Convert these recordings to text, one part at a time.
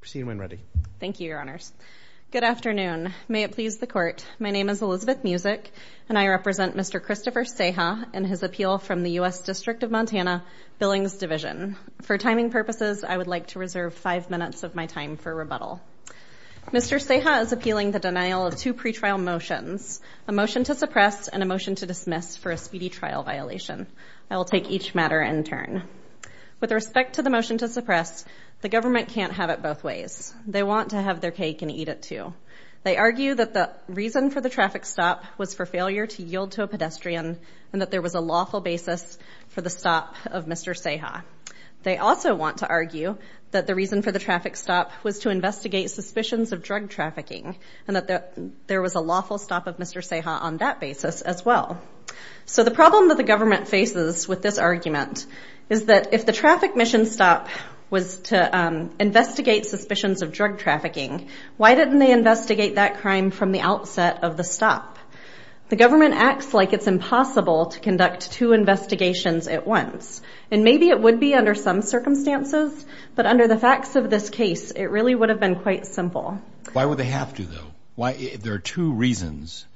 Proceed when ready. Thank you, your honors. Good afternoon. May it please the court. My name is Elizabeth Musick, and I represent Mr. Christopher Ceja and his appeal from the U.S. District of Montana Billings Division. For timing purposes, I would like to reserve five minutes of my time for rebuttal. Mr. Ceja is appealing the denial of two pretrial motions, a motion to suppress and a motion to dismiss for a speedy trial violation. I will take each matter in turn. With respect to the motion to suppress, the government can't have it both ways. They want to have their cake and eat it too. They argue that the reason for the traffic stop was for failure to yield to a pedestrian and that there was a lawful basis for the stop of Mr. Ceja. They also want to argue that the reason for the traffic stop was to investigate suspicions of drug trafficking and that there was a lawful stop of Mr. Ceja on that basis as well. So the problem that the government faces with this argument is that if the traffic mission stop was to investigate suspicions of drug trafficking, why didn't they investigate that crime from the outset of the stop? The government acts like it's impossible to conduct two investigations at once. And maybe it would be under some circumstances, but under the facts of this case, it really would have been quite simple. Why would they have to, though? There are two reasons.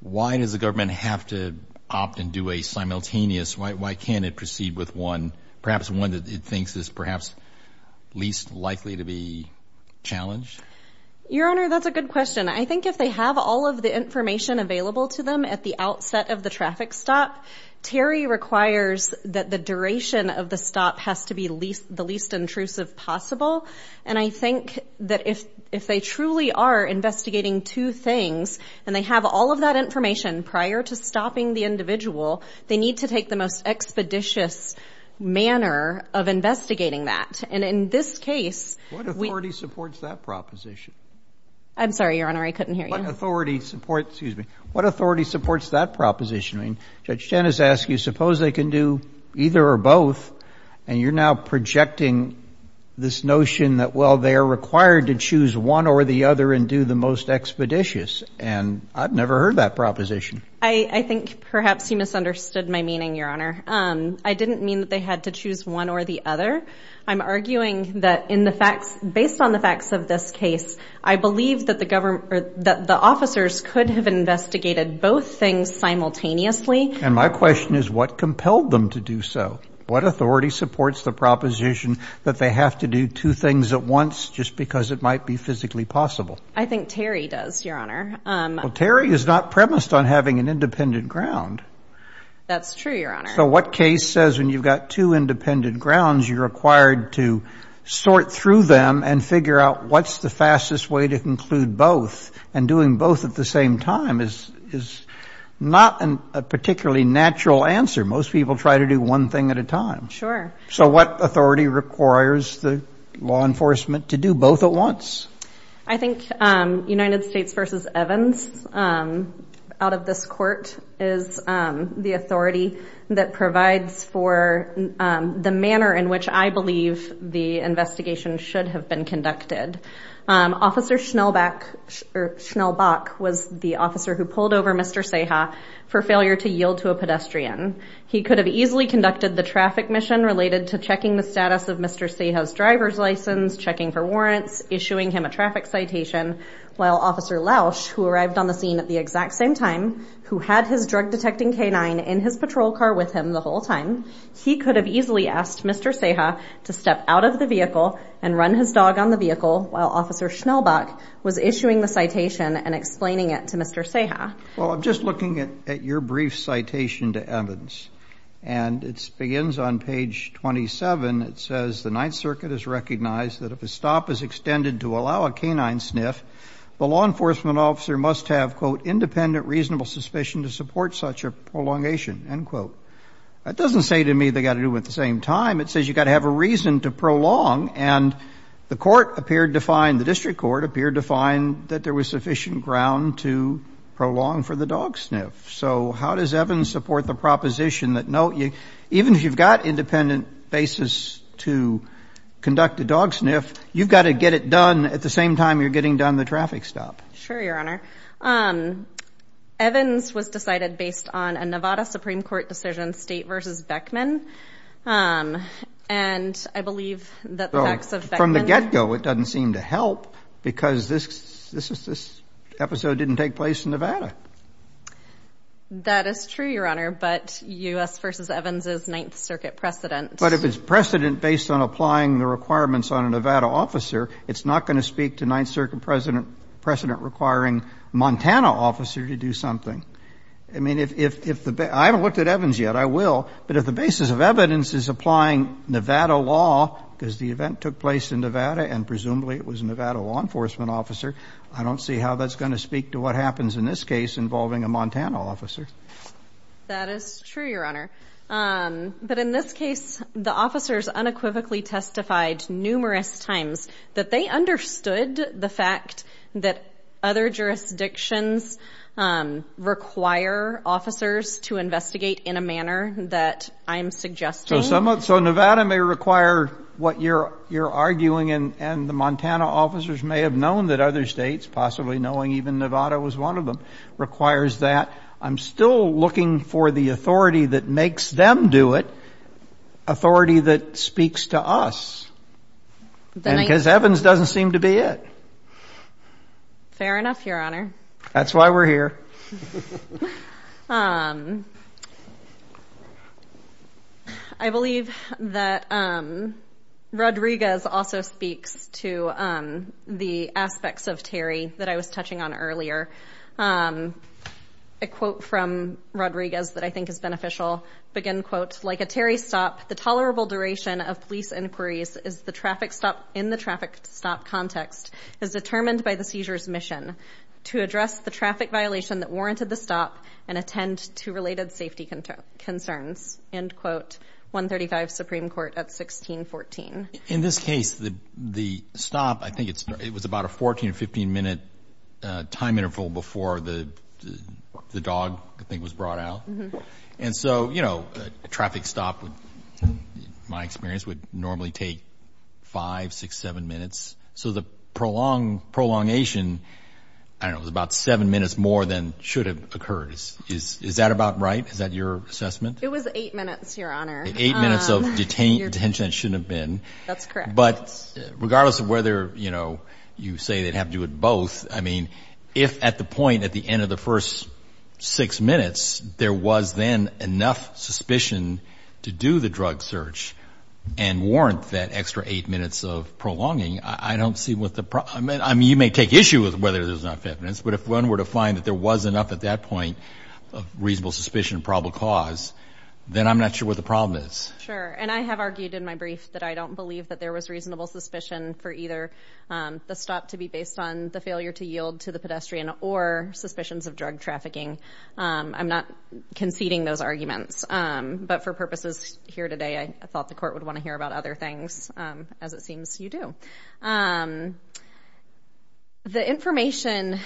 Why does the government have to opt and do a simultaneous? Why can't it proceed with one, perhaps one that it thinks is perhaps least likely to be challenged? Your Honor, that's a good question. I think if they have all of the information available to them at the outset of the traffic stop, Terry requires that the duration of the stop has to be the least intrusive possible. And I think that if if they truly are investigating two things and they have all of that information prior to stopping the individual, they need to take the most expeditious manner of investigating that. And in this case, what authority supports that proposition? I'm sorry, Your Honor. I couldn't hear you. Authority support. Excuse me. What authority supports that proposition? Judge Dennis asked you, suppose they can do either or both. And you're now projecting this notion that, well, they are required to choose one or the other and do the most expeditious. And I've never heard that proposition. I think perhaps you misunderstood my meaning, Your Honor. I didn't mean that they had to choose one or the other. I'm arguing that in the facts based on the facts of this case, I believe that the government that the officers could have investigated both things simultaneously. And my question is, what compelled them to do so? What authority supports the proposition that they have to do two things at once just because it might be physically possible? I think Terry does, Your Honor. Terry is not premised on having an independent ground. That's true. So what case says when you've got two independent grounds, you're required to sort through them and figure out what's the fastest way to conclude both? And doing both at the same time is not a particularly natural answer. Most people try to do one thing at a time. Sure. So what authority requires the law enforcement to do both at once? I think United States v. Evans out of this court is the authority that provides for the manner in which I believe the investigation should have been conducted. Officer Schnellbach was the officer who pulled over Mr. Seha for failure to yield to a pedestrian. He could have easily conducted the traffic mission related to checking the status of Mr. Seha's driver's license, checking for warrants, issuing him a traffic citation. While Officer Lausch, who arrived on the scene at the exact same time, who had his drug detecting canine in his patrol car with him the whole time, he could have easily asked Mr. Seha to step out of the vehicle and run his dog on the vehicle while Officer Schnellbach was issuing the citation and explaining it to Mr. Seha. Well, I'm just looking at your brief citation to Evans, and it begins on page 27. It says, The Ninth Circuit has recognized that if a stop is extended to allow a canine sniff, the law enforcement officer must have, quote, independent reasonable suspicion to support such a prolongation, end quote. That doesn't say to me they've got to do it at the same time. It says you've got to have a reason to prolong. And the court appeared to find, the district court appeared to find, that there was sufficient ground to prolong for the dog sniff. So how does Evans support the proposition that, no, even if you've got independent basis to conduct a dog sniff, you've got to get it done at the same time you're getting done the traffic stop? Sure, Your Honor. Evans was decided based on a Nevada Supreme Court decision, State v. Beckman. And I believe that the facts of Beckman. It doesn't seem to help because this episode didn't take place in Nevada. That is true, Your Honor, but U.S. v. Evans is Ninth Circuit precedent. But if it's precedent based on applying the requirements on a Nevada officer, it's not going to speak to Ninth Circuit precedent requiring a Montana officer to do something. I mean, I haven't looked at Evans yet. I will. But if the basis of evidence is applying Nevada law, because the event took place in Nevada and presumably it was a Nevada law enforcement officer, I don't see how that's going to speak to what happens in this case involving a Montana officer. That is true, Your Honor. But in this case, the officers unequivocally testified numerous times that they understood the fact that other jurisdictions require officers to investigate in a manner that I'm suggesting. So Nevada may require what you're arguing and the Montana officers may have known that other states, possibly knowing even Nevada was one of them, requires that. I'm still looking for the authority that makes them do it, authority that speaks to us. Because Evans doesn't seem to be it. Fair enough, Your Honor. That's why we're here. I believe that Rodriguez also speaks to the aspects of Terry that I was touching on earlier. A quote from Rodriguez that I think is beneficial, begin quote, Like a Terry stop, the tolerable duration of police inquiries in the traffic stop context is determined by the seizure's mission. To address the traffic violation that warranted the stop and attend to related safety concerns. End quote. 135 Supreme Court at 1614. In this case, the stop, I think it was about a 14 or 15 minute time interval before the dog, I think, was brought out. And so, you know, a traffic stop, in my experience, would normally take five, six, seven minutes. So the prolongation, I don't know, was about seven minutes more than should have occurred. Is that about right? Is that your assessment? It was eight minutes, Your Honor. Eight minutes of detention. That shouldn't have been. That's correct. But regardless of whether, you know, you say they'd have to do it both, I mean, if at the point at the end of the first six minutes there was then enough suspicion to do the drug search and warrant that extra eight minutes of prolonging, I don't see what the problem is. I mean, you may take issue with whether there's enough evidence, but if one were to find that there was enough at that point of reasonable suspicion of probable cause, then I'm not sure what the problem is. Sure. And I have argued in my brief that I don't believe that there was reasonable suspicion for either the stop to be based on the failure to yield to the pedestrian or suspicions of drug trafficking. I'm not conceding those arguments. But for purposes here today, I thought the court would want to hear about other things, as it seems you do. The information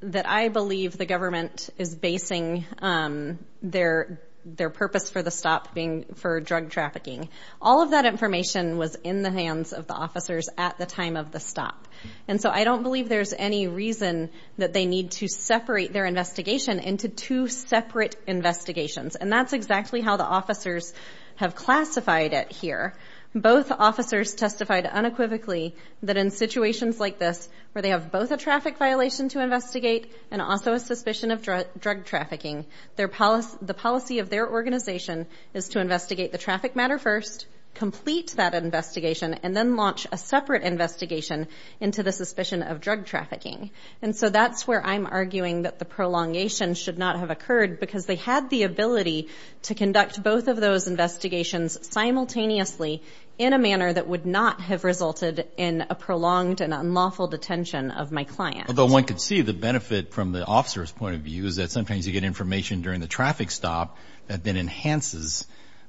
that I believe the government is basing their purpose for the stop being for drug trafficking, all of that information was in the hands of the officers at the time of the stop. And so I don't believe there's any reason that they need to separate their investigation into two separate investigations. And that's exactly how the officers have classified it here. Both officers testified unequivocally that in situations like this, where they have both a traffic violation to investigate and also a suspicion of drug trafficking, the policy of their organization is to investigate the traffic matter first, complete that investigation, and then launch a separate investigation into the suspicion of drug trafficking. And so that's where I'm arguing that the prolongation should not have occurred, because they had the ability to conduct both of those investigations simultaneously in a manner that would not have resulted in a prolonged and unlawful detention of my client. Although one could see the benefit from the officer's point of view, is that sometimes you get information during the traffic stop that then enhances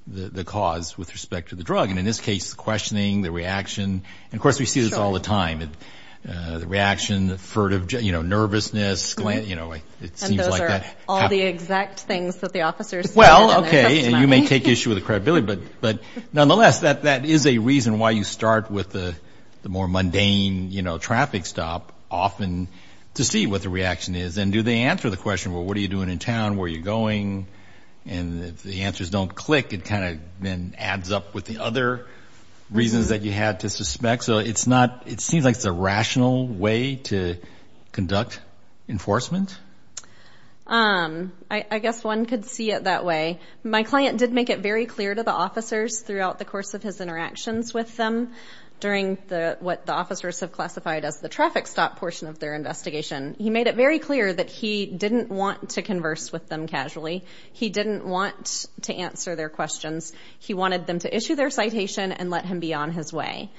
the cause with respect to the drug. And in this case, the questioning, the reaction. And, of course, we see this all the time. The reaction, the furtive, you know, nervousness, you know, it seems like that. All the exact things that the officers said in their testimony. Well, okay, and you may take issue with the credibility, but nonetheless that is a reason why you start with the more mundane, you know, traffic stop often to see what the reaction is. And do they answer the question, well, what are you doing in town, where are you going? And if the answers don't click, it kind of then adds up with the other reasons that you had to suspect. So it's not, it seems like it's a rational way to conduct enforcement? I guess one could see it that way. My client did make it very clear to the officers throughout the course of his interactions with them during what the officers have classified as the traffic stop portion of their investigation. He made it very clear that he didn't want to converse with them casually. He didn't want to answer their questions. He wanted them to issue their citation and let him be on his way.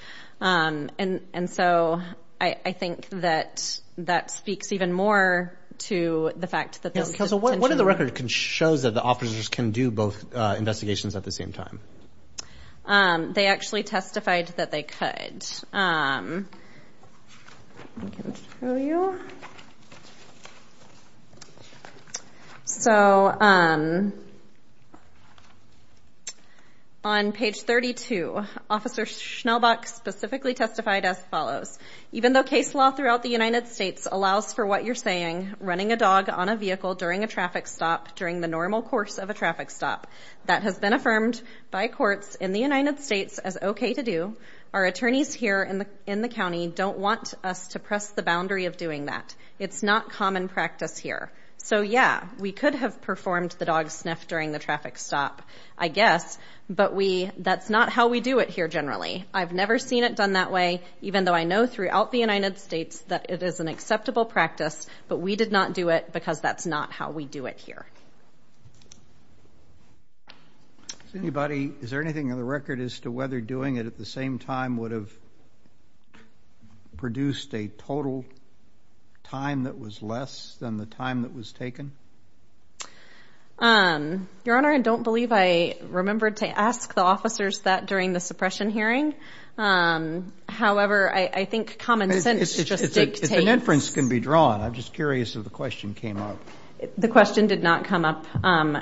And so I think that that speaks even more to the fact that this is intentional. So what in the record shows that the officers can do both investigations at the same time? They actually testified that they could. I can show you. So on page 32, Officer Schnellbach specifically testified as follows. Even though case law throughout the United States allows for what you're saying, running a dog on a vehicle during a traffic stop during the normal course of a traffic stop, that has been affirmed by courts in the United States as okay to do, our attorneys here in the county don't want us to press the boundary of doing that. It's not common practice here. So, yeah, we could have performed the dog sniff during the traffic stop, I guess, but that's not how we do it here generally. I've never seen it done that way, even though I know throughout the United States that it is an acceptable practice, but we did not do it because that's not how we do it here. Is there anything in the record as to whether doing it at the same time would have produced a total time that was less than the time that was taken? Your Honor, I don't believe I remembered to ask the officers that during the suppression hearing. However, I think common sense just dictates. An inference can be drawn. I'm just curious if the question came up. The question did not come up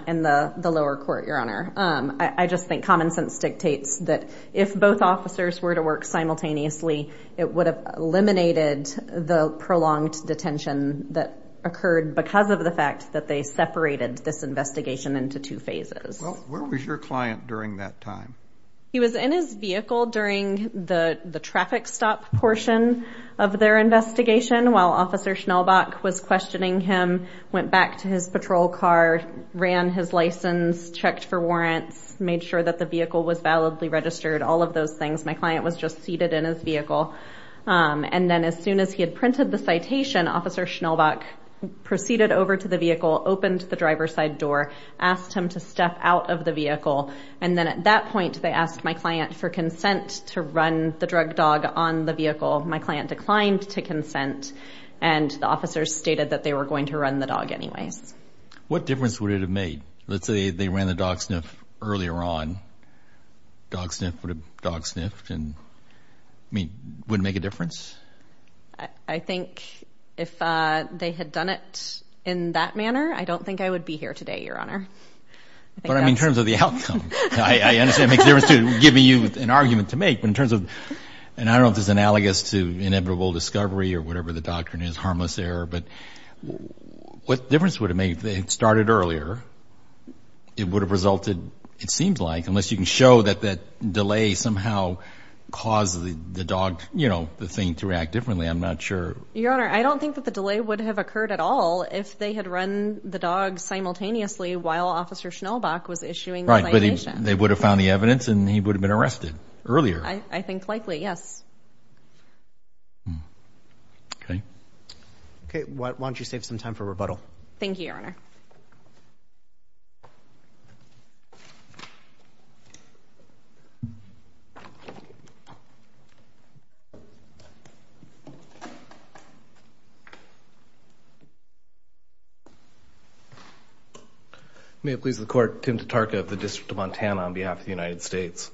in the lower court, Your Honor. I just think common sense dictates that if both officers were to work simultaneously, it would have eliminated the prolonged detention that occurred because of the fact that they separated this investigation into two phases. Well, where was your client during that time? He was in his vehicle during the traffic stop portion of their investigation while Officer Schnellbach was questioning him, went back to his patrol car, ran his license, checked for warrants, made sure that the vehicle was validly registered, all of those things. My client was just seated in his vehicle. And then as soon as he had printed the citation, Officer Schnellbach proceeded over to the vehicle, opened the driver's side door, asked him to step out of the vehicle, and then at that point they asked my client for consent to run the drug dog on the vehicle. My client declined to consent, and the officers stated that they were going to run the dog anyways. What difference would it have made? Let's say they ran the dog sniff earlier on. Dog sniff would have dog sniffed and, I mean, would it make a difference? I think if they had done it in that manner, I don't think I would be here today, Your Honor. But I mean in terms of the outcome. I understand it makes a difference too, giving you an argument to make. But in terms of, and I don't know if this is analogous to inevitable discovery or whatever the doctrine is, harmless error, but what difference would it make? If they had started earlier, it would have resulted, it seems like, unless you can show that that delay somehow caused the dog, you know, the thing to react differently. I'm not sure. Your Honor, I don't think that the delay would have occurred at all if they had run the dog simultaneously while Officer Schnellbach was issuing the citation. Right, but they would have found the evidence and he would have been arrested earlier. I think likely, yes. Okay. Okay, why don't you save some time for rebuttal. Thank you, Your Honor. May it please the Court. Tim Tatarka of the District of Montana on behalf of the United States.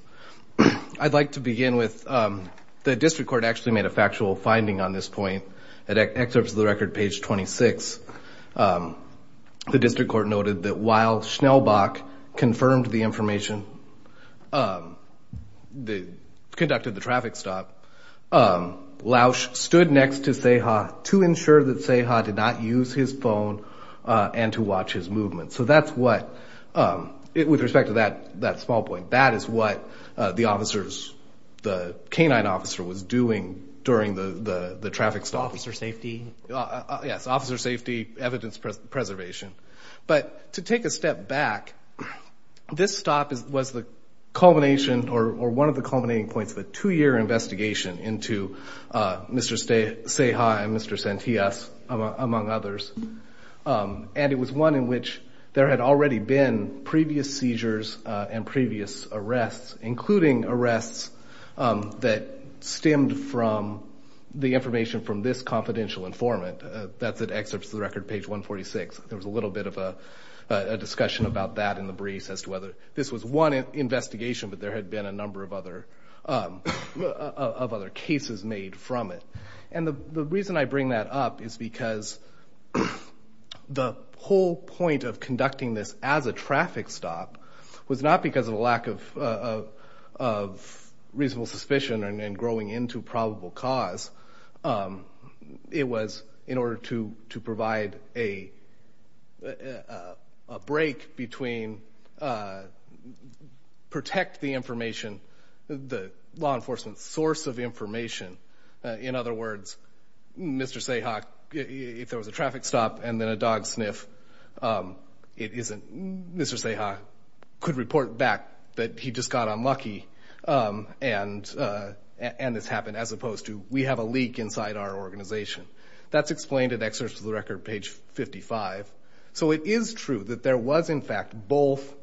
I'd like to begin with the District Court actually made a factual finding on this point. At excerpts of the record, page 26, the District Court noted that while Schnellbach confirmed the information, conducted the traffic stop, Lausch stood next to Ceja to ensure that Ceja did not use his phone and to watch his movement. So that's what, with respect to that small point, that is what the officers, the canine officer was doing during the traffic stop. Officer safety? Yes, officer safety, evidence preservation. But to take a step back, this stop was the culmination or one of the culminating points of a two-year investigation into Mr. Ceja and Mr. Santillas, among others. And it was one in which there had already been previous seizures and previous arrests, including arrests that stemmed from the information from this confidential informant. That's at excerpts of the record, page 146. There was a little bit of a discussion about that in the briefs as to whether this was one investigation, but there had been a number of other cases made from it. And the reason I bring that up is because the whole point of conducting this as a traffic stop was not because of a lack of reasonable suspicion and growing into probable cause. It was in order to provide a break between protect the information, the law enforcement source of information. In other words, Mr. Ceja, if there was a traffic stop and then a dog sniff, Mr. Ceja could report back that he just got unlucky and this happened, as opposed to we have a leak inside our organization. That's explained at excerpts of the record, page 55. So it is true that there was, in fact, both,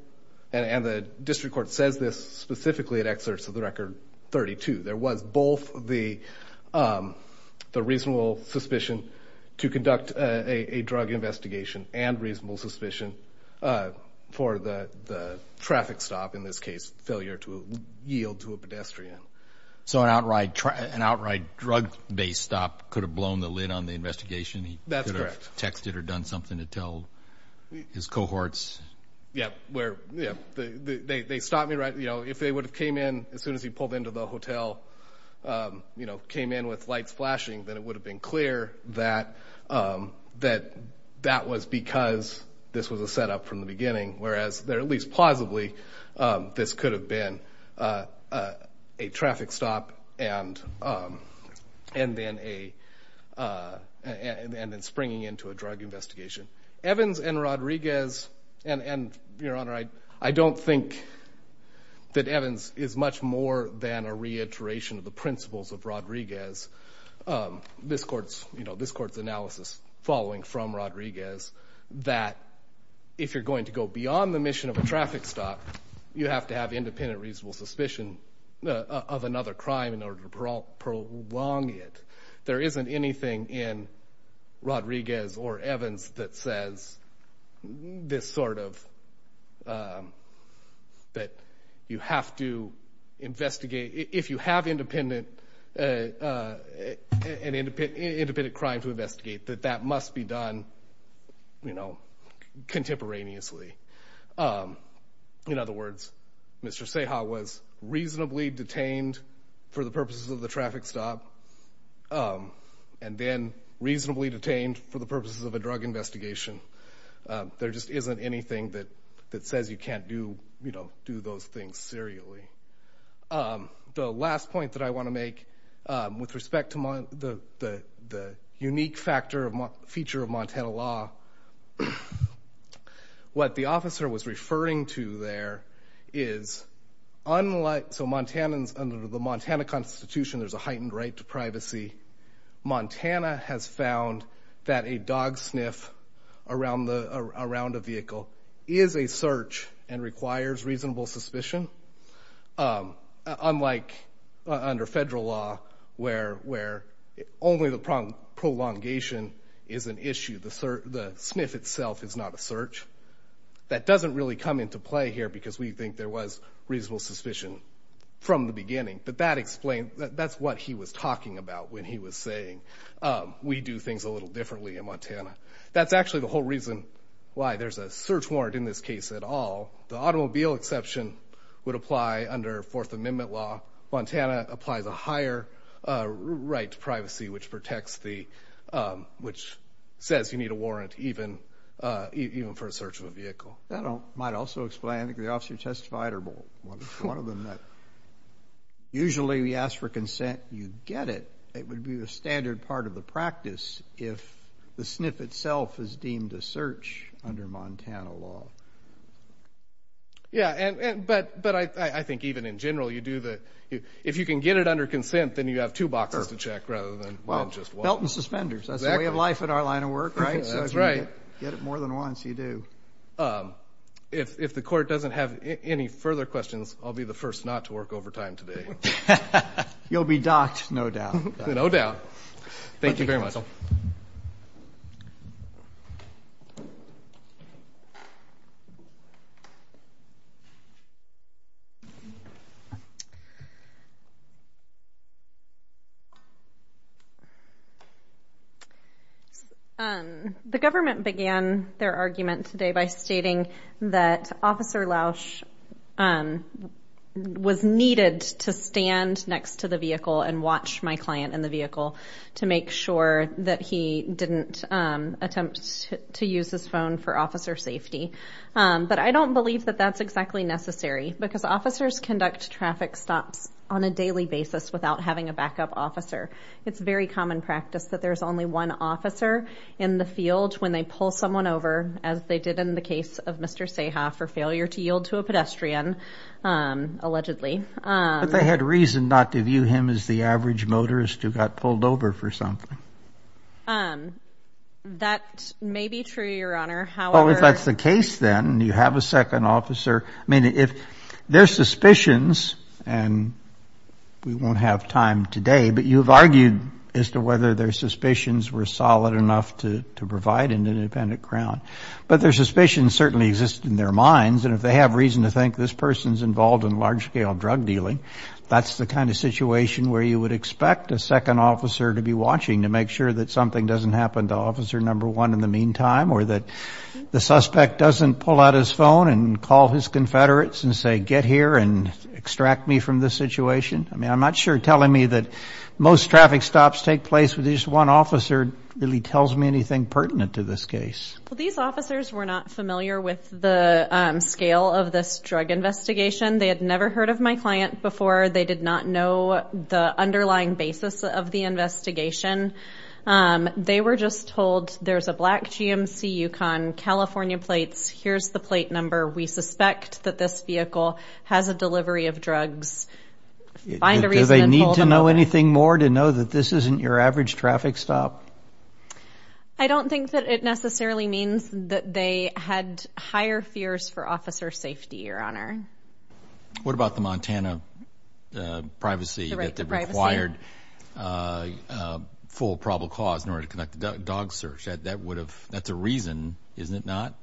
and the district court says this specifically at excerpts of the record 32. There was both the reasonable suspicion to conduct a drug investigation and reasonable suspicion for the traffic stop, in this case, failure to yield to a pedestrian. So an outright drug-based stop could have blown the lid on the investigation? That's correct. He could have texted or done something to tell his cohorts? Yeah. They stopped me right, you know, if they would have came in as soon as he pulled into the hotel, you know, came in with lights flashing, then it would have been clear that that was because this was a setup from the beginning. Whereas, at least plausibly, this could have been a traffic stop and then a, and then springing into a drug investigation. Evans and Rodriguez, and Your Honor, I don't think that Evans is much more than a reiteration of the principles of Rodriguez. This court's, you know, this court's analysis following from Rodriguez, that if you're going to go beyond the mission of a traffic stop, you have to have independent reasonable suspicion of another crime in order to prolong it. There isn't anything in Rodriguez or Evans that says this sort of, that you have to investigate, if you have independent, an independent crime to investigate, that that must be done, you know, contemporaneously. In other words, Mr. Ceja was reasonably detained for the purposes of the traffic stop, and then reasonably detained for the purposes of a drug investigation. There just isn't anything that says you can't do, you know, do those things serially. The last point that I want to make with respect to the unique factor, feature of Montana law, what the officer was referring to there is, unlike, so Montanans, under the Montana Constitution, there's a heightened right to privacy. Montana has found that a dog sniff around the, around a vehicle is a search and requires reasonable suspicion. Unlike under federal law, where, where only the prolongation is an issue. The sniff itself is not a search. That doesn't really come into play here because we think there was reasonable suspicion from the beginning. But that explains, that's what he was talking about when he was saying we do things a little differently in Montana. That's actually the whole reason why there's a search warrant in this case at all. The automobile exception would apply under Fourth Amendment law. Montana applies a higher right to privacy, which protects the, which says you need a warrant even, even for a search of a vehicle. That might also explain, I think the officer testified, or one of them, that usually we ask for consent, you get it. It would be the standard part of the practice if the sniff itself is deemed a search under Montana law. Yeah, and, and, but, but I, I think even in general you do the, if you can get it under consent, then you have two boxes to check rather than just one. Well, felt and suspenders. That's the way of life in our line of work, right? That's right. Get it more than once, you do. If, if the court doesn't have any further questions, I'll be the first not to work overtime today. You'll be docked, no doubt. No doubt. Thank you very much. Counsel. Thank you. The government began their argument today by stating that Officer Lausch was needed to stand next to the vehicle and watch my client in the vehicle to make sure that he didn't attempt to use his phone for officer safety. But I don't believe that that's exactly necessary because officers conduct traffic stops on a daily basis without having a backup officer. It's very common practice that there's only one officer in the field when they pull someone over, as they did in the case of Mr. Seha for failure to yield to a pedestrian, allegedly. But they had reason not to view him as the average motorist who got pulled over for something. That may be true, Your Honor. However... Well, if that's the case, then you have a second officer. I mean, if their suspicions, and we won't have time today, but you've argued as to whether their suspicions were solid enough to provide an independent crown. But their suspicions certainly exist in their minds, and if they have reason to think this person's involved in large-scale drug dealing, that's the kind of situation where you would expect a second officer to be watching to make sure that something doesn't happen to Officer Number One in the meantime or that the suspect doesn't pull out his phone and call his confederates and say, get here and extract me from this situation. I mean, I'm not sure telling me that most traffic stops take place with just one officer really tells me anything pertinent to this case. Well, these officers were not familiar with the scale of this drug investigation. They had never heard of my client before. They did not know the underlying basis of the investigation. They were just told, there's a black GMC Yukon, California plates, here's the plate number, we suspect that this vehicle has a delivery of drugs. Do they need to know anything more to know that this isn't your average traffic stop? I don't think that it necessarily means that they had higher fears for officer safety, Your Honor. What about the Montana privacy that required full probable cause in order to conduct a dog search? That's a reason, isn't it not?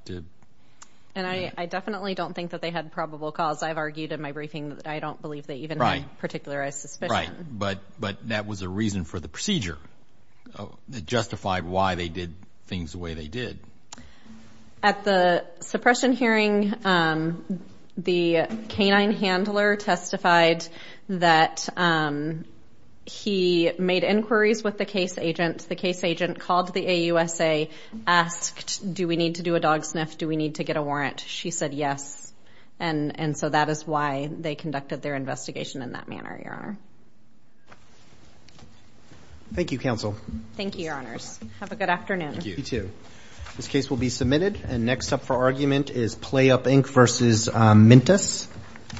And I definitely don't think that they had probable cause. I've argued in my briefing that I don't believe they even had a particular suspicion. Right, but that was a reason for the procedure that justified why they did things the way they did. At the suppression hearing, the canine handler testified that he made inquiries with the case agent. The case agent called the AUSA, asked, do we need to do a dog sniff? Do we need to get a warrant? She said yes, and so that is why they conducted their investigation in that manner, Your Honor. Thank you, Counsel. Thank you, Your Honors. Have a good afternoon. You too. This case will be submitted, and next up for argument is Playup Inc. v. Mintus.